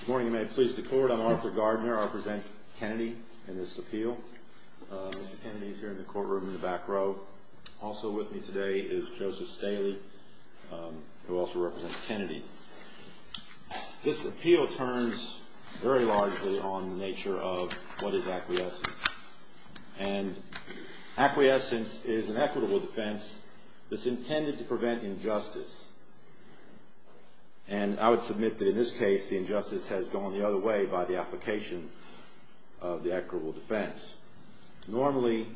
Good morning, and may it please the Court. I'm Arthur Gardner. I represent Kennedy in this appeal. Mr. Kennedy is here in the courtroom in the back row. Also with me today is Joseph Staley, who also represents Kennedy. This appeal turns very largely on the nature of what is acquiescence. And acquiescence is an equitable defense that's intended to prevent injustice. And I would submit that in this case, the injustice has gone the other way by the application of the equitable defense. Normally,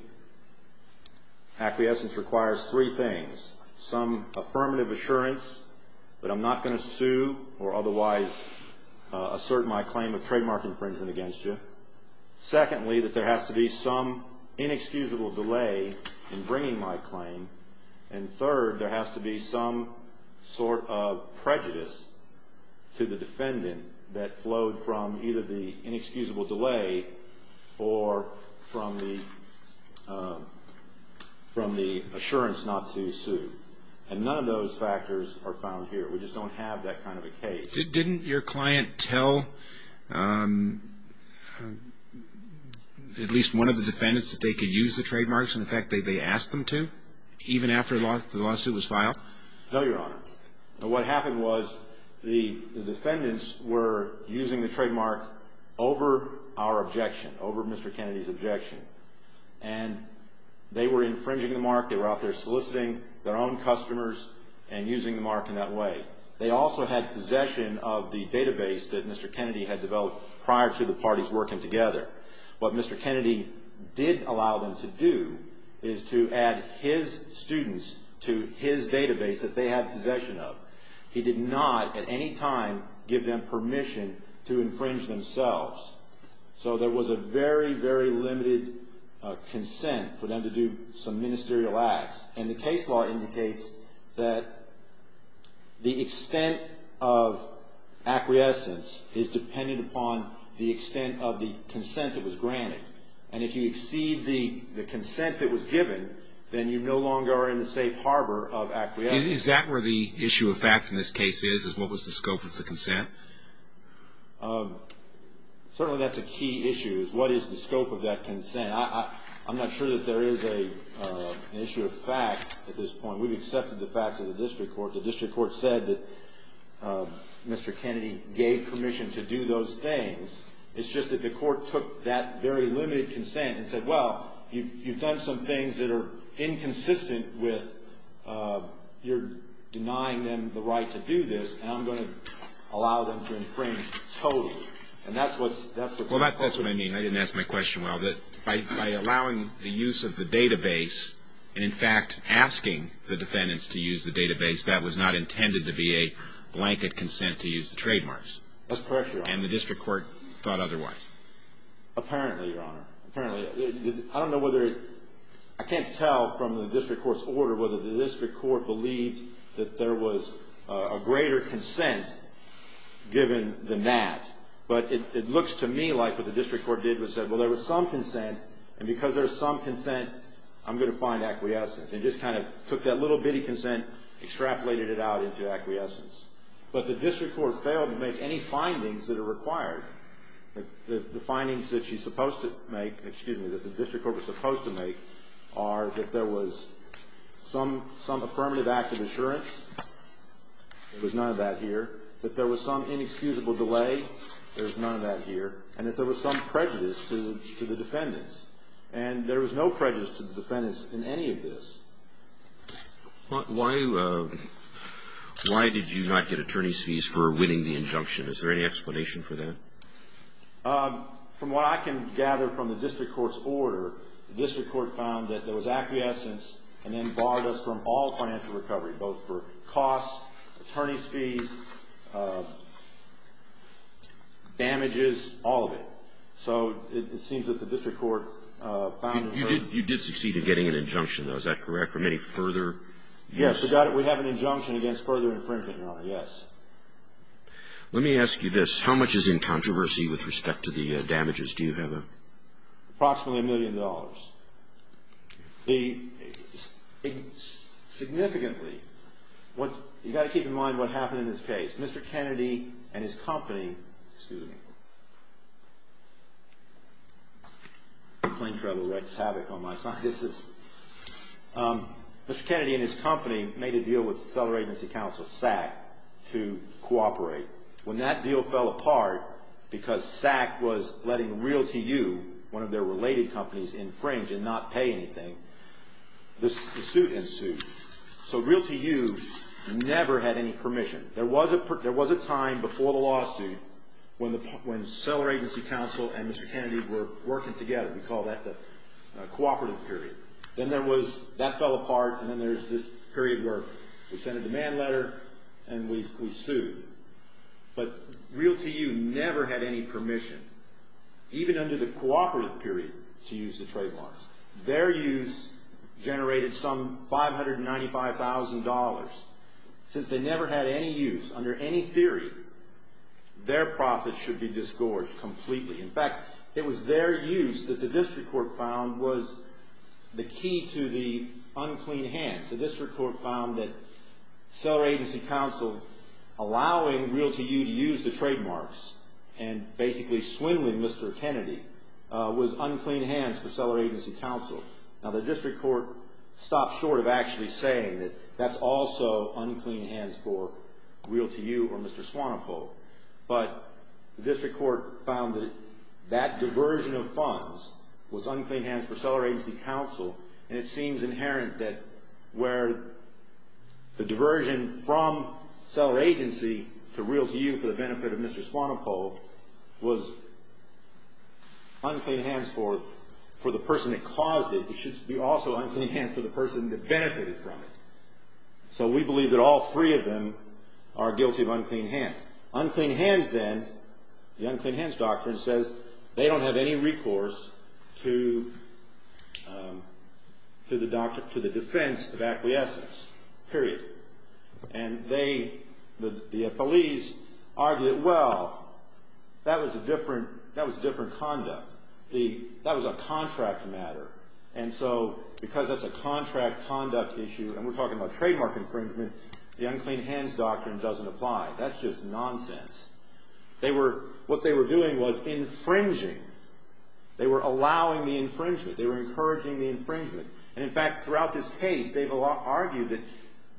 acquiescence requires three things. Some affirmative assurance that I'm not going to sue or otherwise assert my claim of trademark infringement against you. Secondly, that there has to be some inexcusable delay in bringing my claim. And third, there has to be some sort of prejudice to the defendant that flowed from either the inexcusable delay or from the assurance not to sue. And none of those factors are found here. We just don't have that kind of a case. Didn't your client tell at least one of the defendants that they could use the trademarks? In fact, they asked them to, even after the lawsuit was filed? No, Your Honor. What happened was the defendants were using the trademark over our objection, over Mr. Kennedy's objection. And they were infringing the mark. They were out there soliciting their own customers and using the mark in that way. They also had possession of the database that Mr. Kennedy had developed prior to the parties working together. What Mr. Kennedy did allow them to do is to add his students to his database that they had possession of. He did not at any time give them permission to infringe themselves. So there was a very, very limited consent for them to do some ministerial acts. And the case law indicates that the extent of acquiescence is dependent upon the extent of the consent that was granted. And if you exceed the consent that was given, then you no longer are in the safe harbor of acquiescence. Is that where the issue of fact in this case is, is what was the scope of the consent? Certainly that's a key issue, is what is the scope of that consent. I'm not sure that there is an issue of fact at this point. We've accepted the facts of the district court. The district court said that Mr. Kennedy gave permission to do those things. It's just that the court took that very limited consent and said, well, you've done some things that are inconsistent with your denying them the right to do this, and I'm going to allow them to infringe totally. And that's what's the point. Well, that's what I mean. I didn't ask my question well. By allowing the use of the database and, in fact, asking the defendants to use the database, that was not intended to be a blanket consent to use the trademarks. That's correct, Your Honor. And the district court thought otherwise. Apparently, Your Honor. Apparently. I don't know whether it – I can't tell from the district court's order whether the district court believed that there was a greater consent given than that. But it looks to me like what the district court did was said, well, there was some consent, and because there's some consent, I'm going to find acquiescence. And just kind of took that little bitty consent, extrapolated it out into acquiescence. But the district court failed to make any findings that are required. The findings that she's supposed to make – excuse me, that the district court was supposed to make – are that there was some affirmative act of assurance. There was none of that here. That there was some inexcusable delay. There was none of that here. And that there was some prejudice to the defendants. And there was no prejudice to the defendants in any of this. Why did you not get attorney's fees for winning the injunction? Is there any explanation for that? From what I can gather from the district court's order, the district court found that there was acquiescence and then borrowed us from all financial recovery, both for costs, attorney's fees, damages, all of it. So it seems that the district court found – You did succeed in getting an injunction, though. Is that correct? From any further – We have an injunction against further infringement, Your Honor. Yes. Let me ask you this. How much is in controversy with respect to the damages? Do you have a – Approximately a million dollars. Significantly – You've got to keep in mind what happened in this case. Mr. Kennedy and his company – Excuse me. Plane travel wreaks havoc on my sight. This is – Mr. Kennedy and his company made a deal with cellular agency counsel, SACC, to cooperate. When that deal fell apart, because SACC was letting RealtyU, one of their related companies, infringe and not pay anything, the suit ensued. So RealtyU never had any permission. There was a time before the lawsuit when cellular agency counsel and Mr. Kennedy were working together. We call that the cooperative period. Then there was – That fell apart and then there's this period where we sent a demand letter and we sued. But RealtyU never had any permission, even under the cooperative period, to use the trademarks. Their use generated some $595,000. Since they never had any use, under any theory, their profits should be disgorged completely. In fact, it was their use that the district court found was the key to the unclean hands. The district court found that cellular agency counsel allowing RealtyU to use the trademarks and basically swindling Mr. Kennedy was unclean hands for cellular agency counsel. Now, the district court stopped short of actually saying that that's also unclean hands for RealtyU or Mr. Swanepoel. But the district court found that that diversion of funds was unclean hands for cellular agency counsel and it seems inherent that where the diversion from cellular agency to RealtyU for the benefit of Mr. Swanepoel was unclean hands for the person that caused it, it should be also unclean hands for the person that benefited from it. So we believe that all three of them are guilty of unclean hands. Unclean hands, then, the unclean hands doctrine says they don't have any recourse to the defense of acquiescence, period. And they, the police, argue that, well, that was a different conduct. That was a contract matter. And so because that's a contract conduct issue and we're talking about trademark infringement, the unclean hands doctrine doesn't apply. That's just nonsense. They were, what they were doing was infringing. They were allowing the infringement. They were encouraging the infringement. And, in fact, throughout this case, they've argued that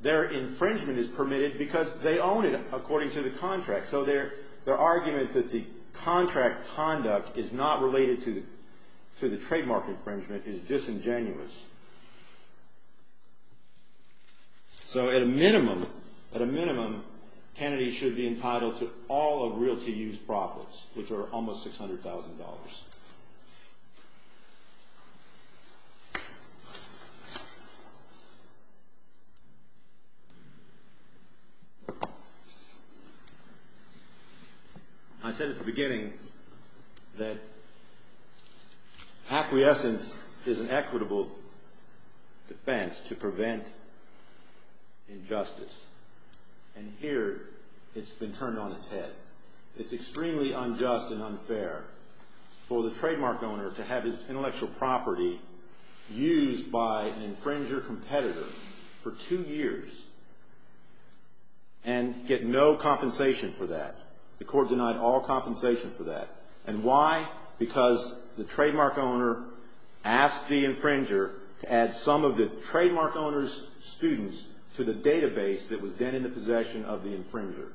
their infringement is permitted because they own it, according to the contract. So their argument that the contract conduct is not related to the trademark infringement is disingenuous. So at a minimum, at a minimum, Kennedy should be entitled to all of realty use profits, which are almost $600,000. I said at the beginning that acquiescence is an equitable defense to prevent injustice. And here it's been turned on its head. It's extremely unjust and unfair for the trademark owner to have his intellectual property used by an infringer competitor for two years and get no compensation for that. The court denied all compensation for that. And why? Because the trademark owner asked the infringer to add some of the trademark owner's students to the database that was then in the possession of the infringer.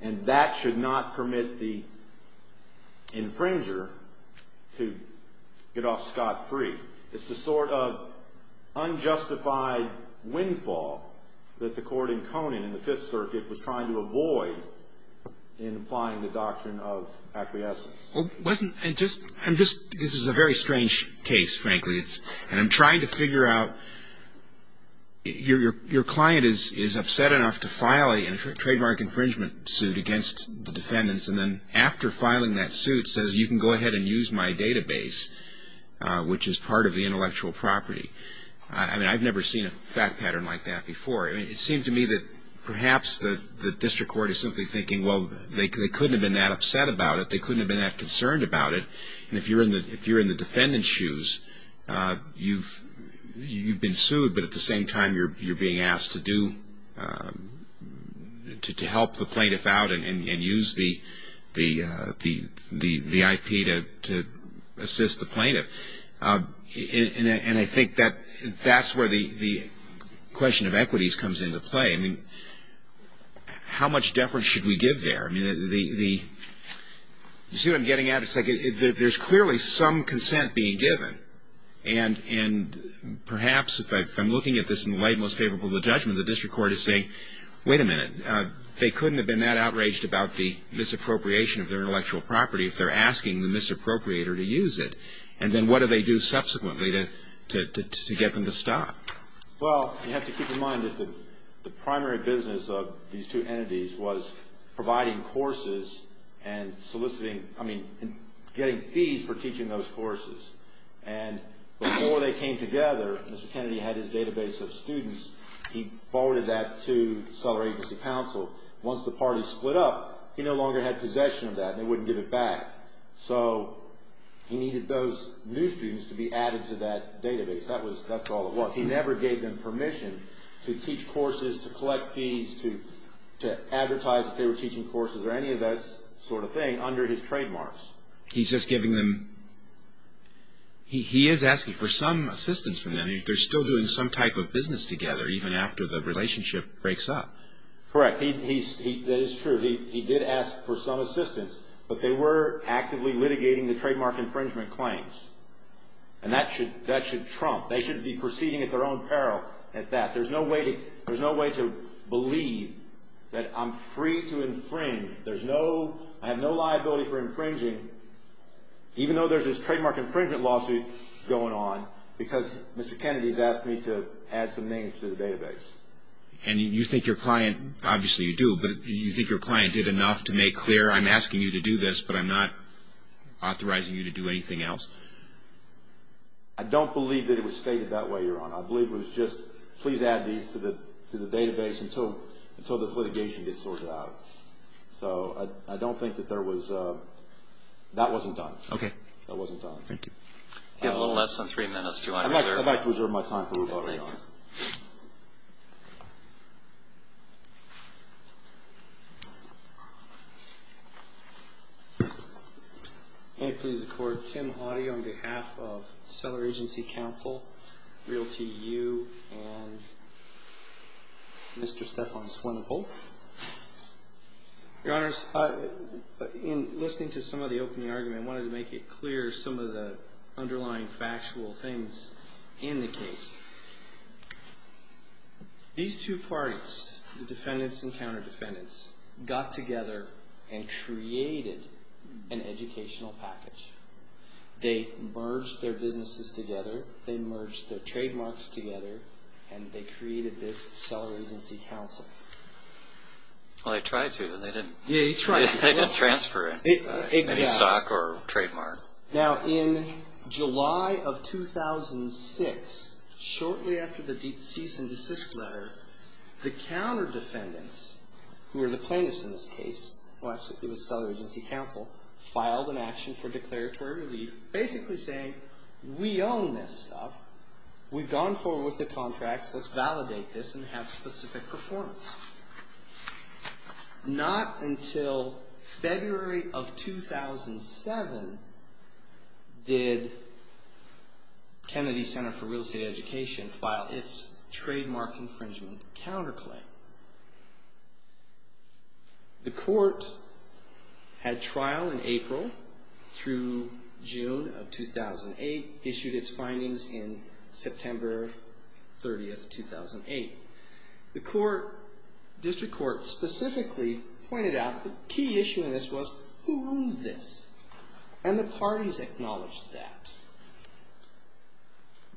And that should not permit the infringer to get off scot-free. It's the sort of unjustified windfall that the court in Conan in the Fifth Circuit was trying to avoid in applying the doctrine of acquiescence. This is a very strange case, frankly. And I'm trying to figure out, your client is upset enough to file a trademark infringement suit against the defendants. And then after filing that suit says, you can go ahead and use my database, which is part of the intellectual property. I mean, I've never seen a fact pattern like that before. I mean, it seems to me that perhaps the district court is simply thinking, well, they couldn't have been that upset about it. They couldn't have been that concerned about it. And if you're in the defendant's shoes, you've been sued. But at the same time, you're being asked to help the plaintiff out and use the IP to assist the plaintiff. And I think that that's where the question of equities comes into play. I mean, how much deference should we give there? I mean, you see what I'm getting at? It's like there's clearly some consent being given. And perhaps if I'm looking at this in the light most favorable to judgment, the district court is saying, wait a minute. They couldn't have been that outraged about the misappropriation of their intellectual property if they're asking the misappropriator to use it. And then what do they do subsequently to get them to stop? Well, you have to keep in mind that the primary business of these two entities was providing courses and soliciting – I mean, getting fees for teaching those courses. And before they came together, Mr. Kennedy had his database of students. He forwarded that to seller agency counsel. Once the parties split up, he no longer had possession of that and they wouldn't give it back. So he needed those new students to be added to that database. That's all it was. He never gave them permission to teach courses, to collect fees, to advertise that they were teaching courses or any of that sort of thing under his trademarks. He's just giving them – he is asking for some assistance from them. They're still doing some type of business together even after the relationship breaks up. Correct. That is true. He did ask for some assistance, but they were actively litigating the trademark infringement claims. And that should trump – they should be proceeding at their own peril at that. There's no way to believe that I'm free to infringe. There's no – I have no liability for infringing even though there's this trademark infringement lawsuit going on because Mr. Kennedy has asked me to add some names to the database. And you think your client – obviously you do – but you think your client did enough to make clear, I'm asking you to do this, but I'm not authorizing you to do anything else? I don't believe that it was stated that way, Your Honor. I believe it was just, please add these to the database until this litigation gets sorted out. So I don't think that there was – that wasn't done. Okay. That wasn't done. Thank you. You have a little less than three minutes. I'd like to reserve my time for rebuttal, Your Honor. Thank you. May it please the Court. Tim Hoddy on behalf of Cellar Agency Counsel, RealtyU, and Mr. Stefan Swinepoel. Your Honors, in listening to some of the opening argument, I wanted to make it clear some of the underlying factual things in the case. These two parties, the defendants and counter-defendants, got together and created an educational package. They merged their businesses together. They merged their trademarks together. And they created this Cellar Agency Counsel. Well, they tried to. Yeah, they tried to. They didn't transfer any stock or trademark. Now, in July of 2006, shortly after the deep cease and desist letter, the counter-defendants, who were the plaintiffs in this case, well, actually it was Cellar Agency Counsel, filed an action for declaratory relief, basically saying, we own this stuff. We've gone forward with the contracts. Let's validate this and have specific performance. Not until February of 2007 did Kennedy Center for Real Estate Education file its trademark infringement counterclaim. The court had trial in April through June of 2008, issued its findings in September 30, 2008. The court, district court, specifically pointed out the key issue in this was, who owns this? And the parties acknowledged that.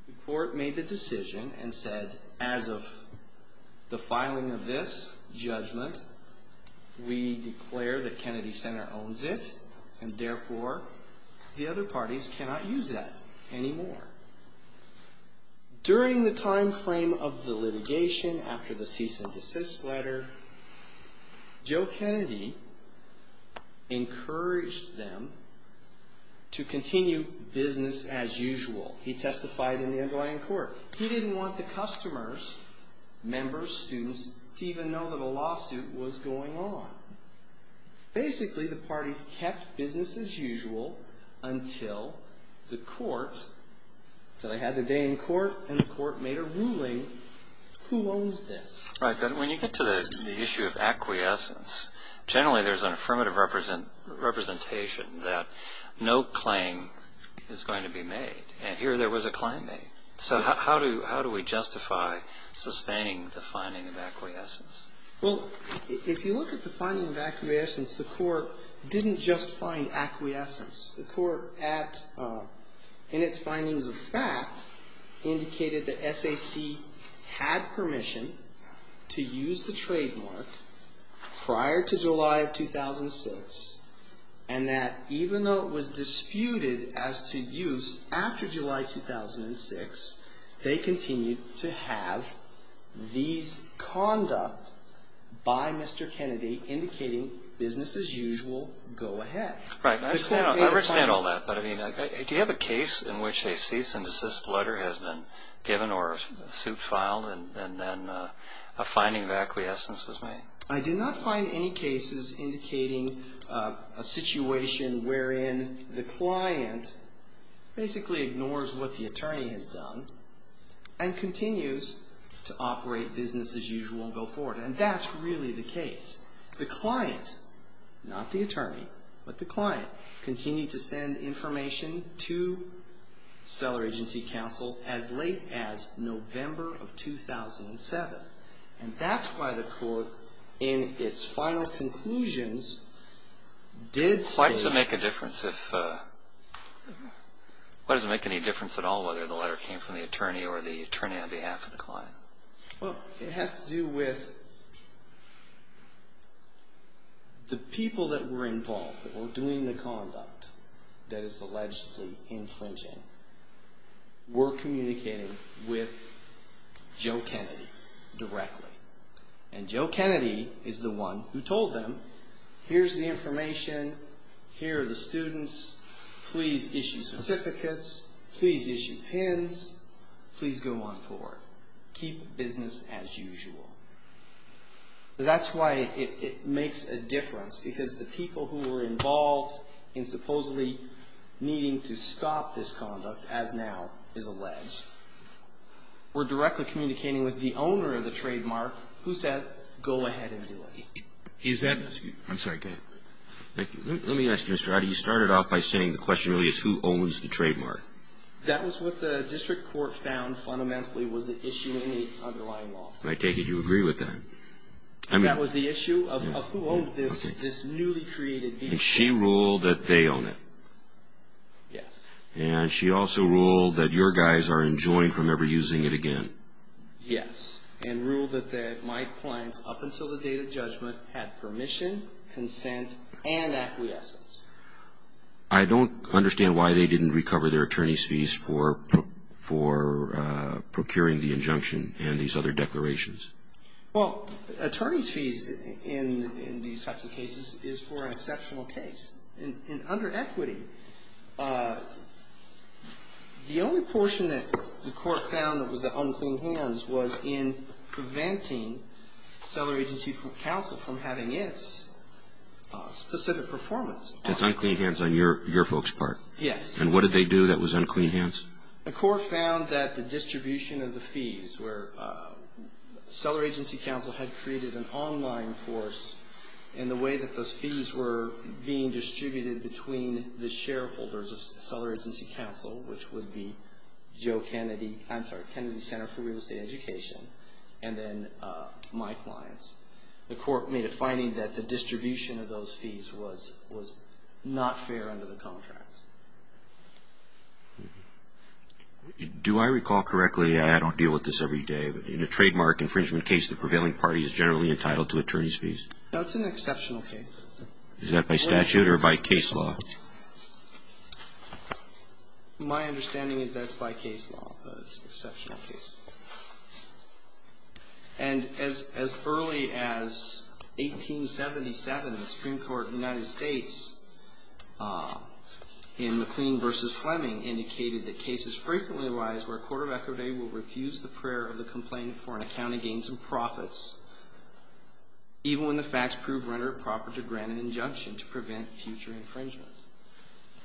The court made the decision and said, as of the filing of this judgment, we declare that Kennedy Center owns it. And therefore, the other parties cannot use that anymore. During the time frame of the litigation, after the cease and desist letter, Joe Kennedy encouraged them to continue business as usual. He testified in the underlying court. He didn't want the customers, members, students, to even know that a lawsuit was going on. Basically, the parties kept business as usual until the court, until they had their day in court, and the court made a ruling, who owns this? Right, but when you get to the issue of acquiescence, generally there's an affirmative representation that no claim is going to be made. And here there was a claim made. So how do we justify sustaining the finding of acquiescence? Well, if you look at the finding of acquiescence, the court didn't justify an acquiescence. The court at, in its findings of fact, indicated that SAC had permission to use the trademark prior to July of 2006, and that even though it was disputed as to use after July 2006, they continued to have these conduct by Mr. Kennedy indicating business as usual go ahead. Right. I understand all that, but I mean, do you have a case in which a cease and desist letter has been given or a suit filed and then a finding of acquiescence was made? I did not find any cases indicating a situation wherein the client basically ignores what the attorney has done and continues to operate business as usual and go forward. And that's really the case. The client, not the attorney, but the client, continued to send information to Seller Agency Counsel as late as November of 2007. And that's why the court, in its final conclusions, did state. Why does it make a difference if, why does it make any difference at all whether the letter came from the attorney or the attorney on behalf of the client? Well, it has to do with the people that were involved, that were doing the conduct that is allegedly infringing were communicating with Joe Kennedy directly. And Joe Kennedy is the one who told them, here's the information. Here are the students. Please issue certificates. Please issue pins. Please go on forward. Keep business as usual. That's why it makes a difference because the people who were involved in supposedly needing to stop this conduct, as now is alleged, were directly communicating with the owner of the trademark who said, go ahead and do it. Is that? I'm sorry, go ahead. Thank you. Let me ask you, Mr. Roddy. You started off by saying the question really is who owns the trademark. That was what the district court found fundamentally was the issue in the underlying law. I take it you agree with that. That was the issue of who owned this newly created vehicle. And she ruled that they own it. Yes. And she also ruled that your guys are enjoined from ever using it again. Yes. And ruled that my clients, up until the date of judgment, had permission, consent, and acquiescence. I don't understand why they didn't recover their attorney's fees for procuring the injunction and these other declarations. Well, attorney's fees in these types of cases is for an exceptional case. And under equity, the only portion that the court found that was the unclean hands was in preventing Seller Agency Counsel from having its specific performance. It's unclean hands on your folks' part. Yes. And what did they do that was unclean hands? The court found that the distribution of the fees where Seller Agency Counsel had created an online course and the way that those fees were being distributed between the shareholders of Seller Agency Counsel, which would be Kennedy Center for Real Estate Education, and then my clients, the court made a finding that the distribution of those fees was not fair under the contract. Do I recall correctly, I don't deal with this every day, but in a trademark infringement case, the prevailing party is generally entitled to attorney's fees? No, it's an exceptional case. Is that by statute or by case law? My understanding is that it's by case law. It's an exceptional case. And as early as 1877, the Supreme Court of the United States in McLean v. Fleming indicated that cases frequently arise where a court of equity will refuse the prayer of the complainant for an account of gains and profits even when the facts prove render it proper to grant an injunction to prevent future infringement.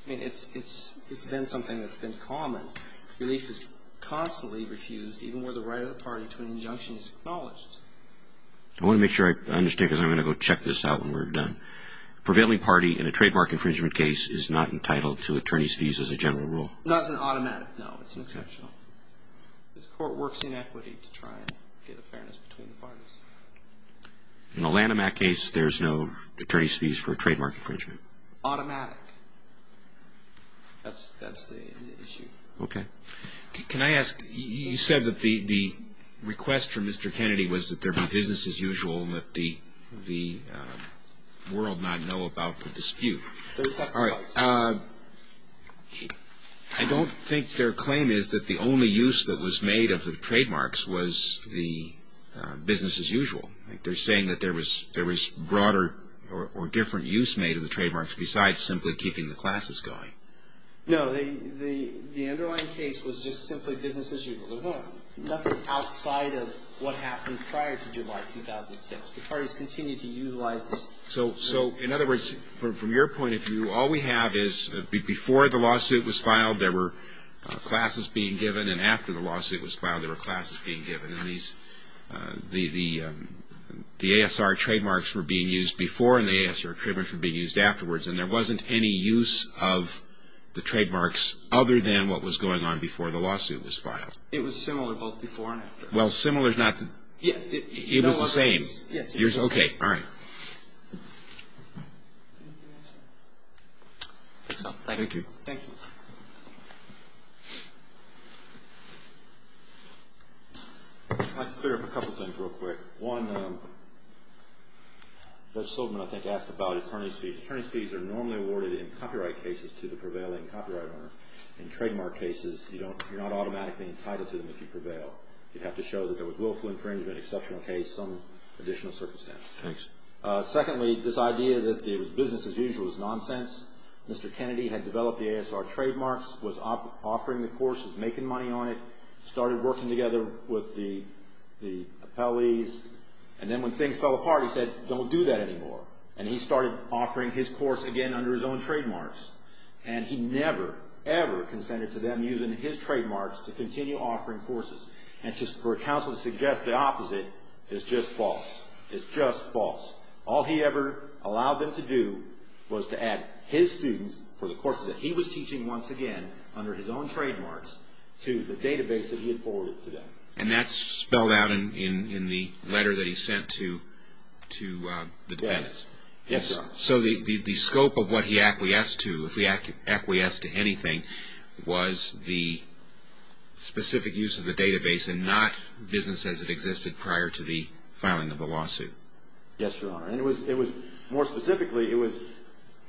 I mean, it's been something that's been common. Relief is constantly refused even where the right of the party to an injunction is acknowledged. I want to make sure I understand because I'm going to go check this out when we're done. The prevailing party in a trademark infringement case is not entitled to attorney's fees as a general rule? No, it's an automatic. No, it's an exceptional. This court works in equity to try and get a fairness between the parties. In a Lanham Act case, there's no attorney's fees for trademark infringement? Automatic. That's the issue. Okay. Can I ask, you said that the request from Mr. Kennedy was that there be business as usual and that the world not know about the dispute. I don't think their claim is that the only use that was made of the trademarks was the business as usual. They're saying that there was broader or different use made of the trademarks besides simply keeping the classes going. No, the underlying case was just simply business as usual. Nothing outside of what happened prior to July 2006. The parties continued to utilize this. So, in other words, from your point of view, all we have is before the lawsuit was filed, there were classes being given, and after the lawsuit was filed, there were classes being given, and the ASR trademarks were being used before and the ASR trademarks were being used afterwards, and there wasn't any use of the trademarks other than what was going on before the lawsuit was filed. It was similar both before and after. Well, similar is not the – it was the same. Yes. Okay. All right. Thank you. Thank you. I'd like to clear up a couple things real quick. One, Judge Silverman, I think, asked about attorney's fees. Attorney's fees are normally awarded in copyright cases to the prevailing copyright owner. In trademark cases, you're not automatically entitled to them if you prevail. You'd have to show that there was willful infringement, exceptional case, some additional circumstance. Thanks. Secondly, this idea that it was business as usual is nonsense. Mr. Kennedy had developed the ASR trademarks, was offering the courses, making money on it, started working together with the appellees, and then when things fell apart, he said, don't do that anymore, and he started offering his course again under his own trademarks, and he never, ever consented to them using his trademarks to continue offering courses. And for counsel to suggest the opposite is just false. It's just false. All he ever allowed them to do was to add his students for the courses that he was teaching once again under his own trademarks to the database that he had forwarded to them. And that's spelled out in the letter that he sent to the defendants. Yes, Your Honor. So the scope of what he acquiesced to, if he acquiesced to anything, was the specific use of the database and not business as it existed prior to the filing of the lawsuit. Yes, Your Honor. And it was, more specifically, it was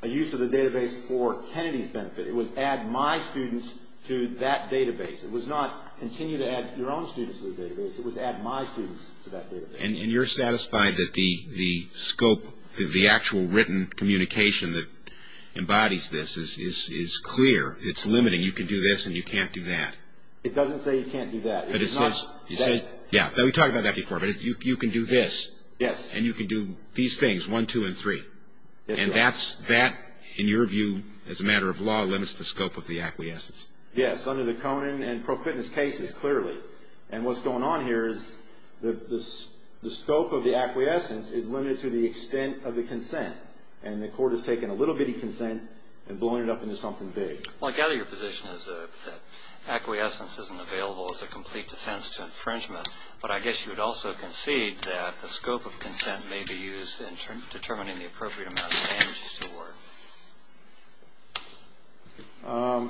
a use of the database for Kennedy's benefit. It was add my students to that database. It was not continue to add your own students to the database. It was add my students to that database. And you're satisfied that the scope, the actual written communication that embodies this is clear. It's limiting. You can do this and you can't do that. It doesn't say you can't do that. But it says, yeah, we talked about that before, but you can do this. Yes. And you can do these things, one, two, and three. And that, in your view, as a matter of law, limits the scope of the acquiescence. Yes, under the Conan and pro fitness cases, clearly. And what's going on here is the scope of the acquiescence is limited to the extent of the consent. And the court has taken a little bitty consent and blown it up into something big. Well, I gather your position is that acquiescence isn't available as a complete defense to infringement. But I guess you would also concede that the scope of consent may be used in determining the appropriate amount of damages to award.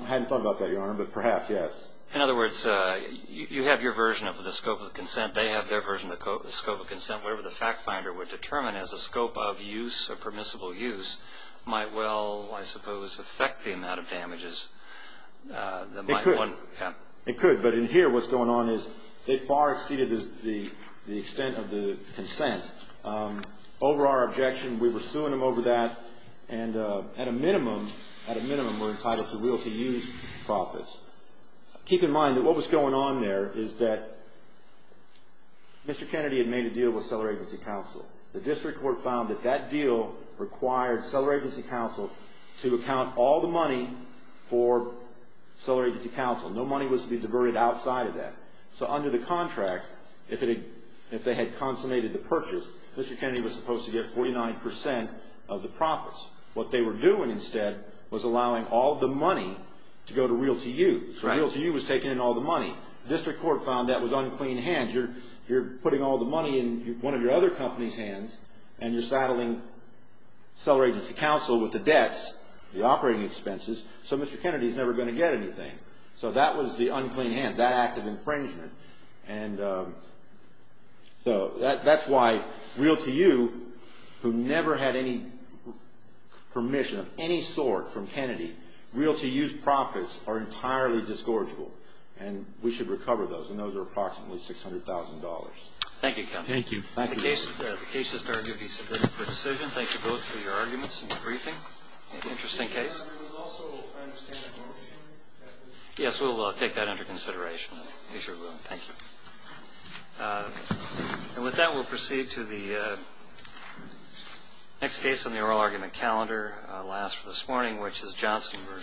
I hadn't thought about that, Your Honor, but perhaps, yes. In other words, you have your version of the scope of consent. They have their version of the scope of consent. Whatever the fact finder would determine as a scope of use or permissible use might well, I suppose, affect the amount of damages. It could. Yeah. It could. But in here what's going on is they far exceeded the extent of the consent. Over our objection, we were suing them over that. And at a minimum, we're entitled to real to use profits. Keep in mind that what was going on there is that Mr. Kennedy had made a deal with Seller Agency Counsel. The district court found that that deal required Seller Agency Counsel to account all the money for Seller Agency Counsel. No money was to be diverted outside of that. So under the contract, if they had consummated the purchase, Mr. Kennedy was supposed to get 49% of the profits. What they were doing instead was allowing all the money to go to real to use. Real to use was taking in all the money. The district court found that was unclean hands. You're putting all the money in one of your other company's hands, and you're saddling Seller Agency Counsel with the debts, the operating expenses, so Mr. Kennedy's never going to get anything. So that was the unclean hands, that act of infringement. And so that's why real to you, who never had any permission of any sort from Kennedy, real to use profits are entirely disgorgeable. And we should recover those, and those are approximately $600,000. Thank you, counsel. Thank you. The case has been submitted for decision. Thank you both for your arguments and your briefing. Interesting case. There was also, I understand, a motion. Yes, we will take that under consideration. We sure will. Thank you. And with that, we'll proceed to the next case on the oral argument calendar, last for this morning, which is Johnson v. Mitsubishi.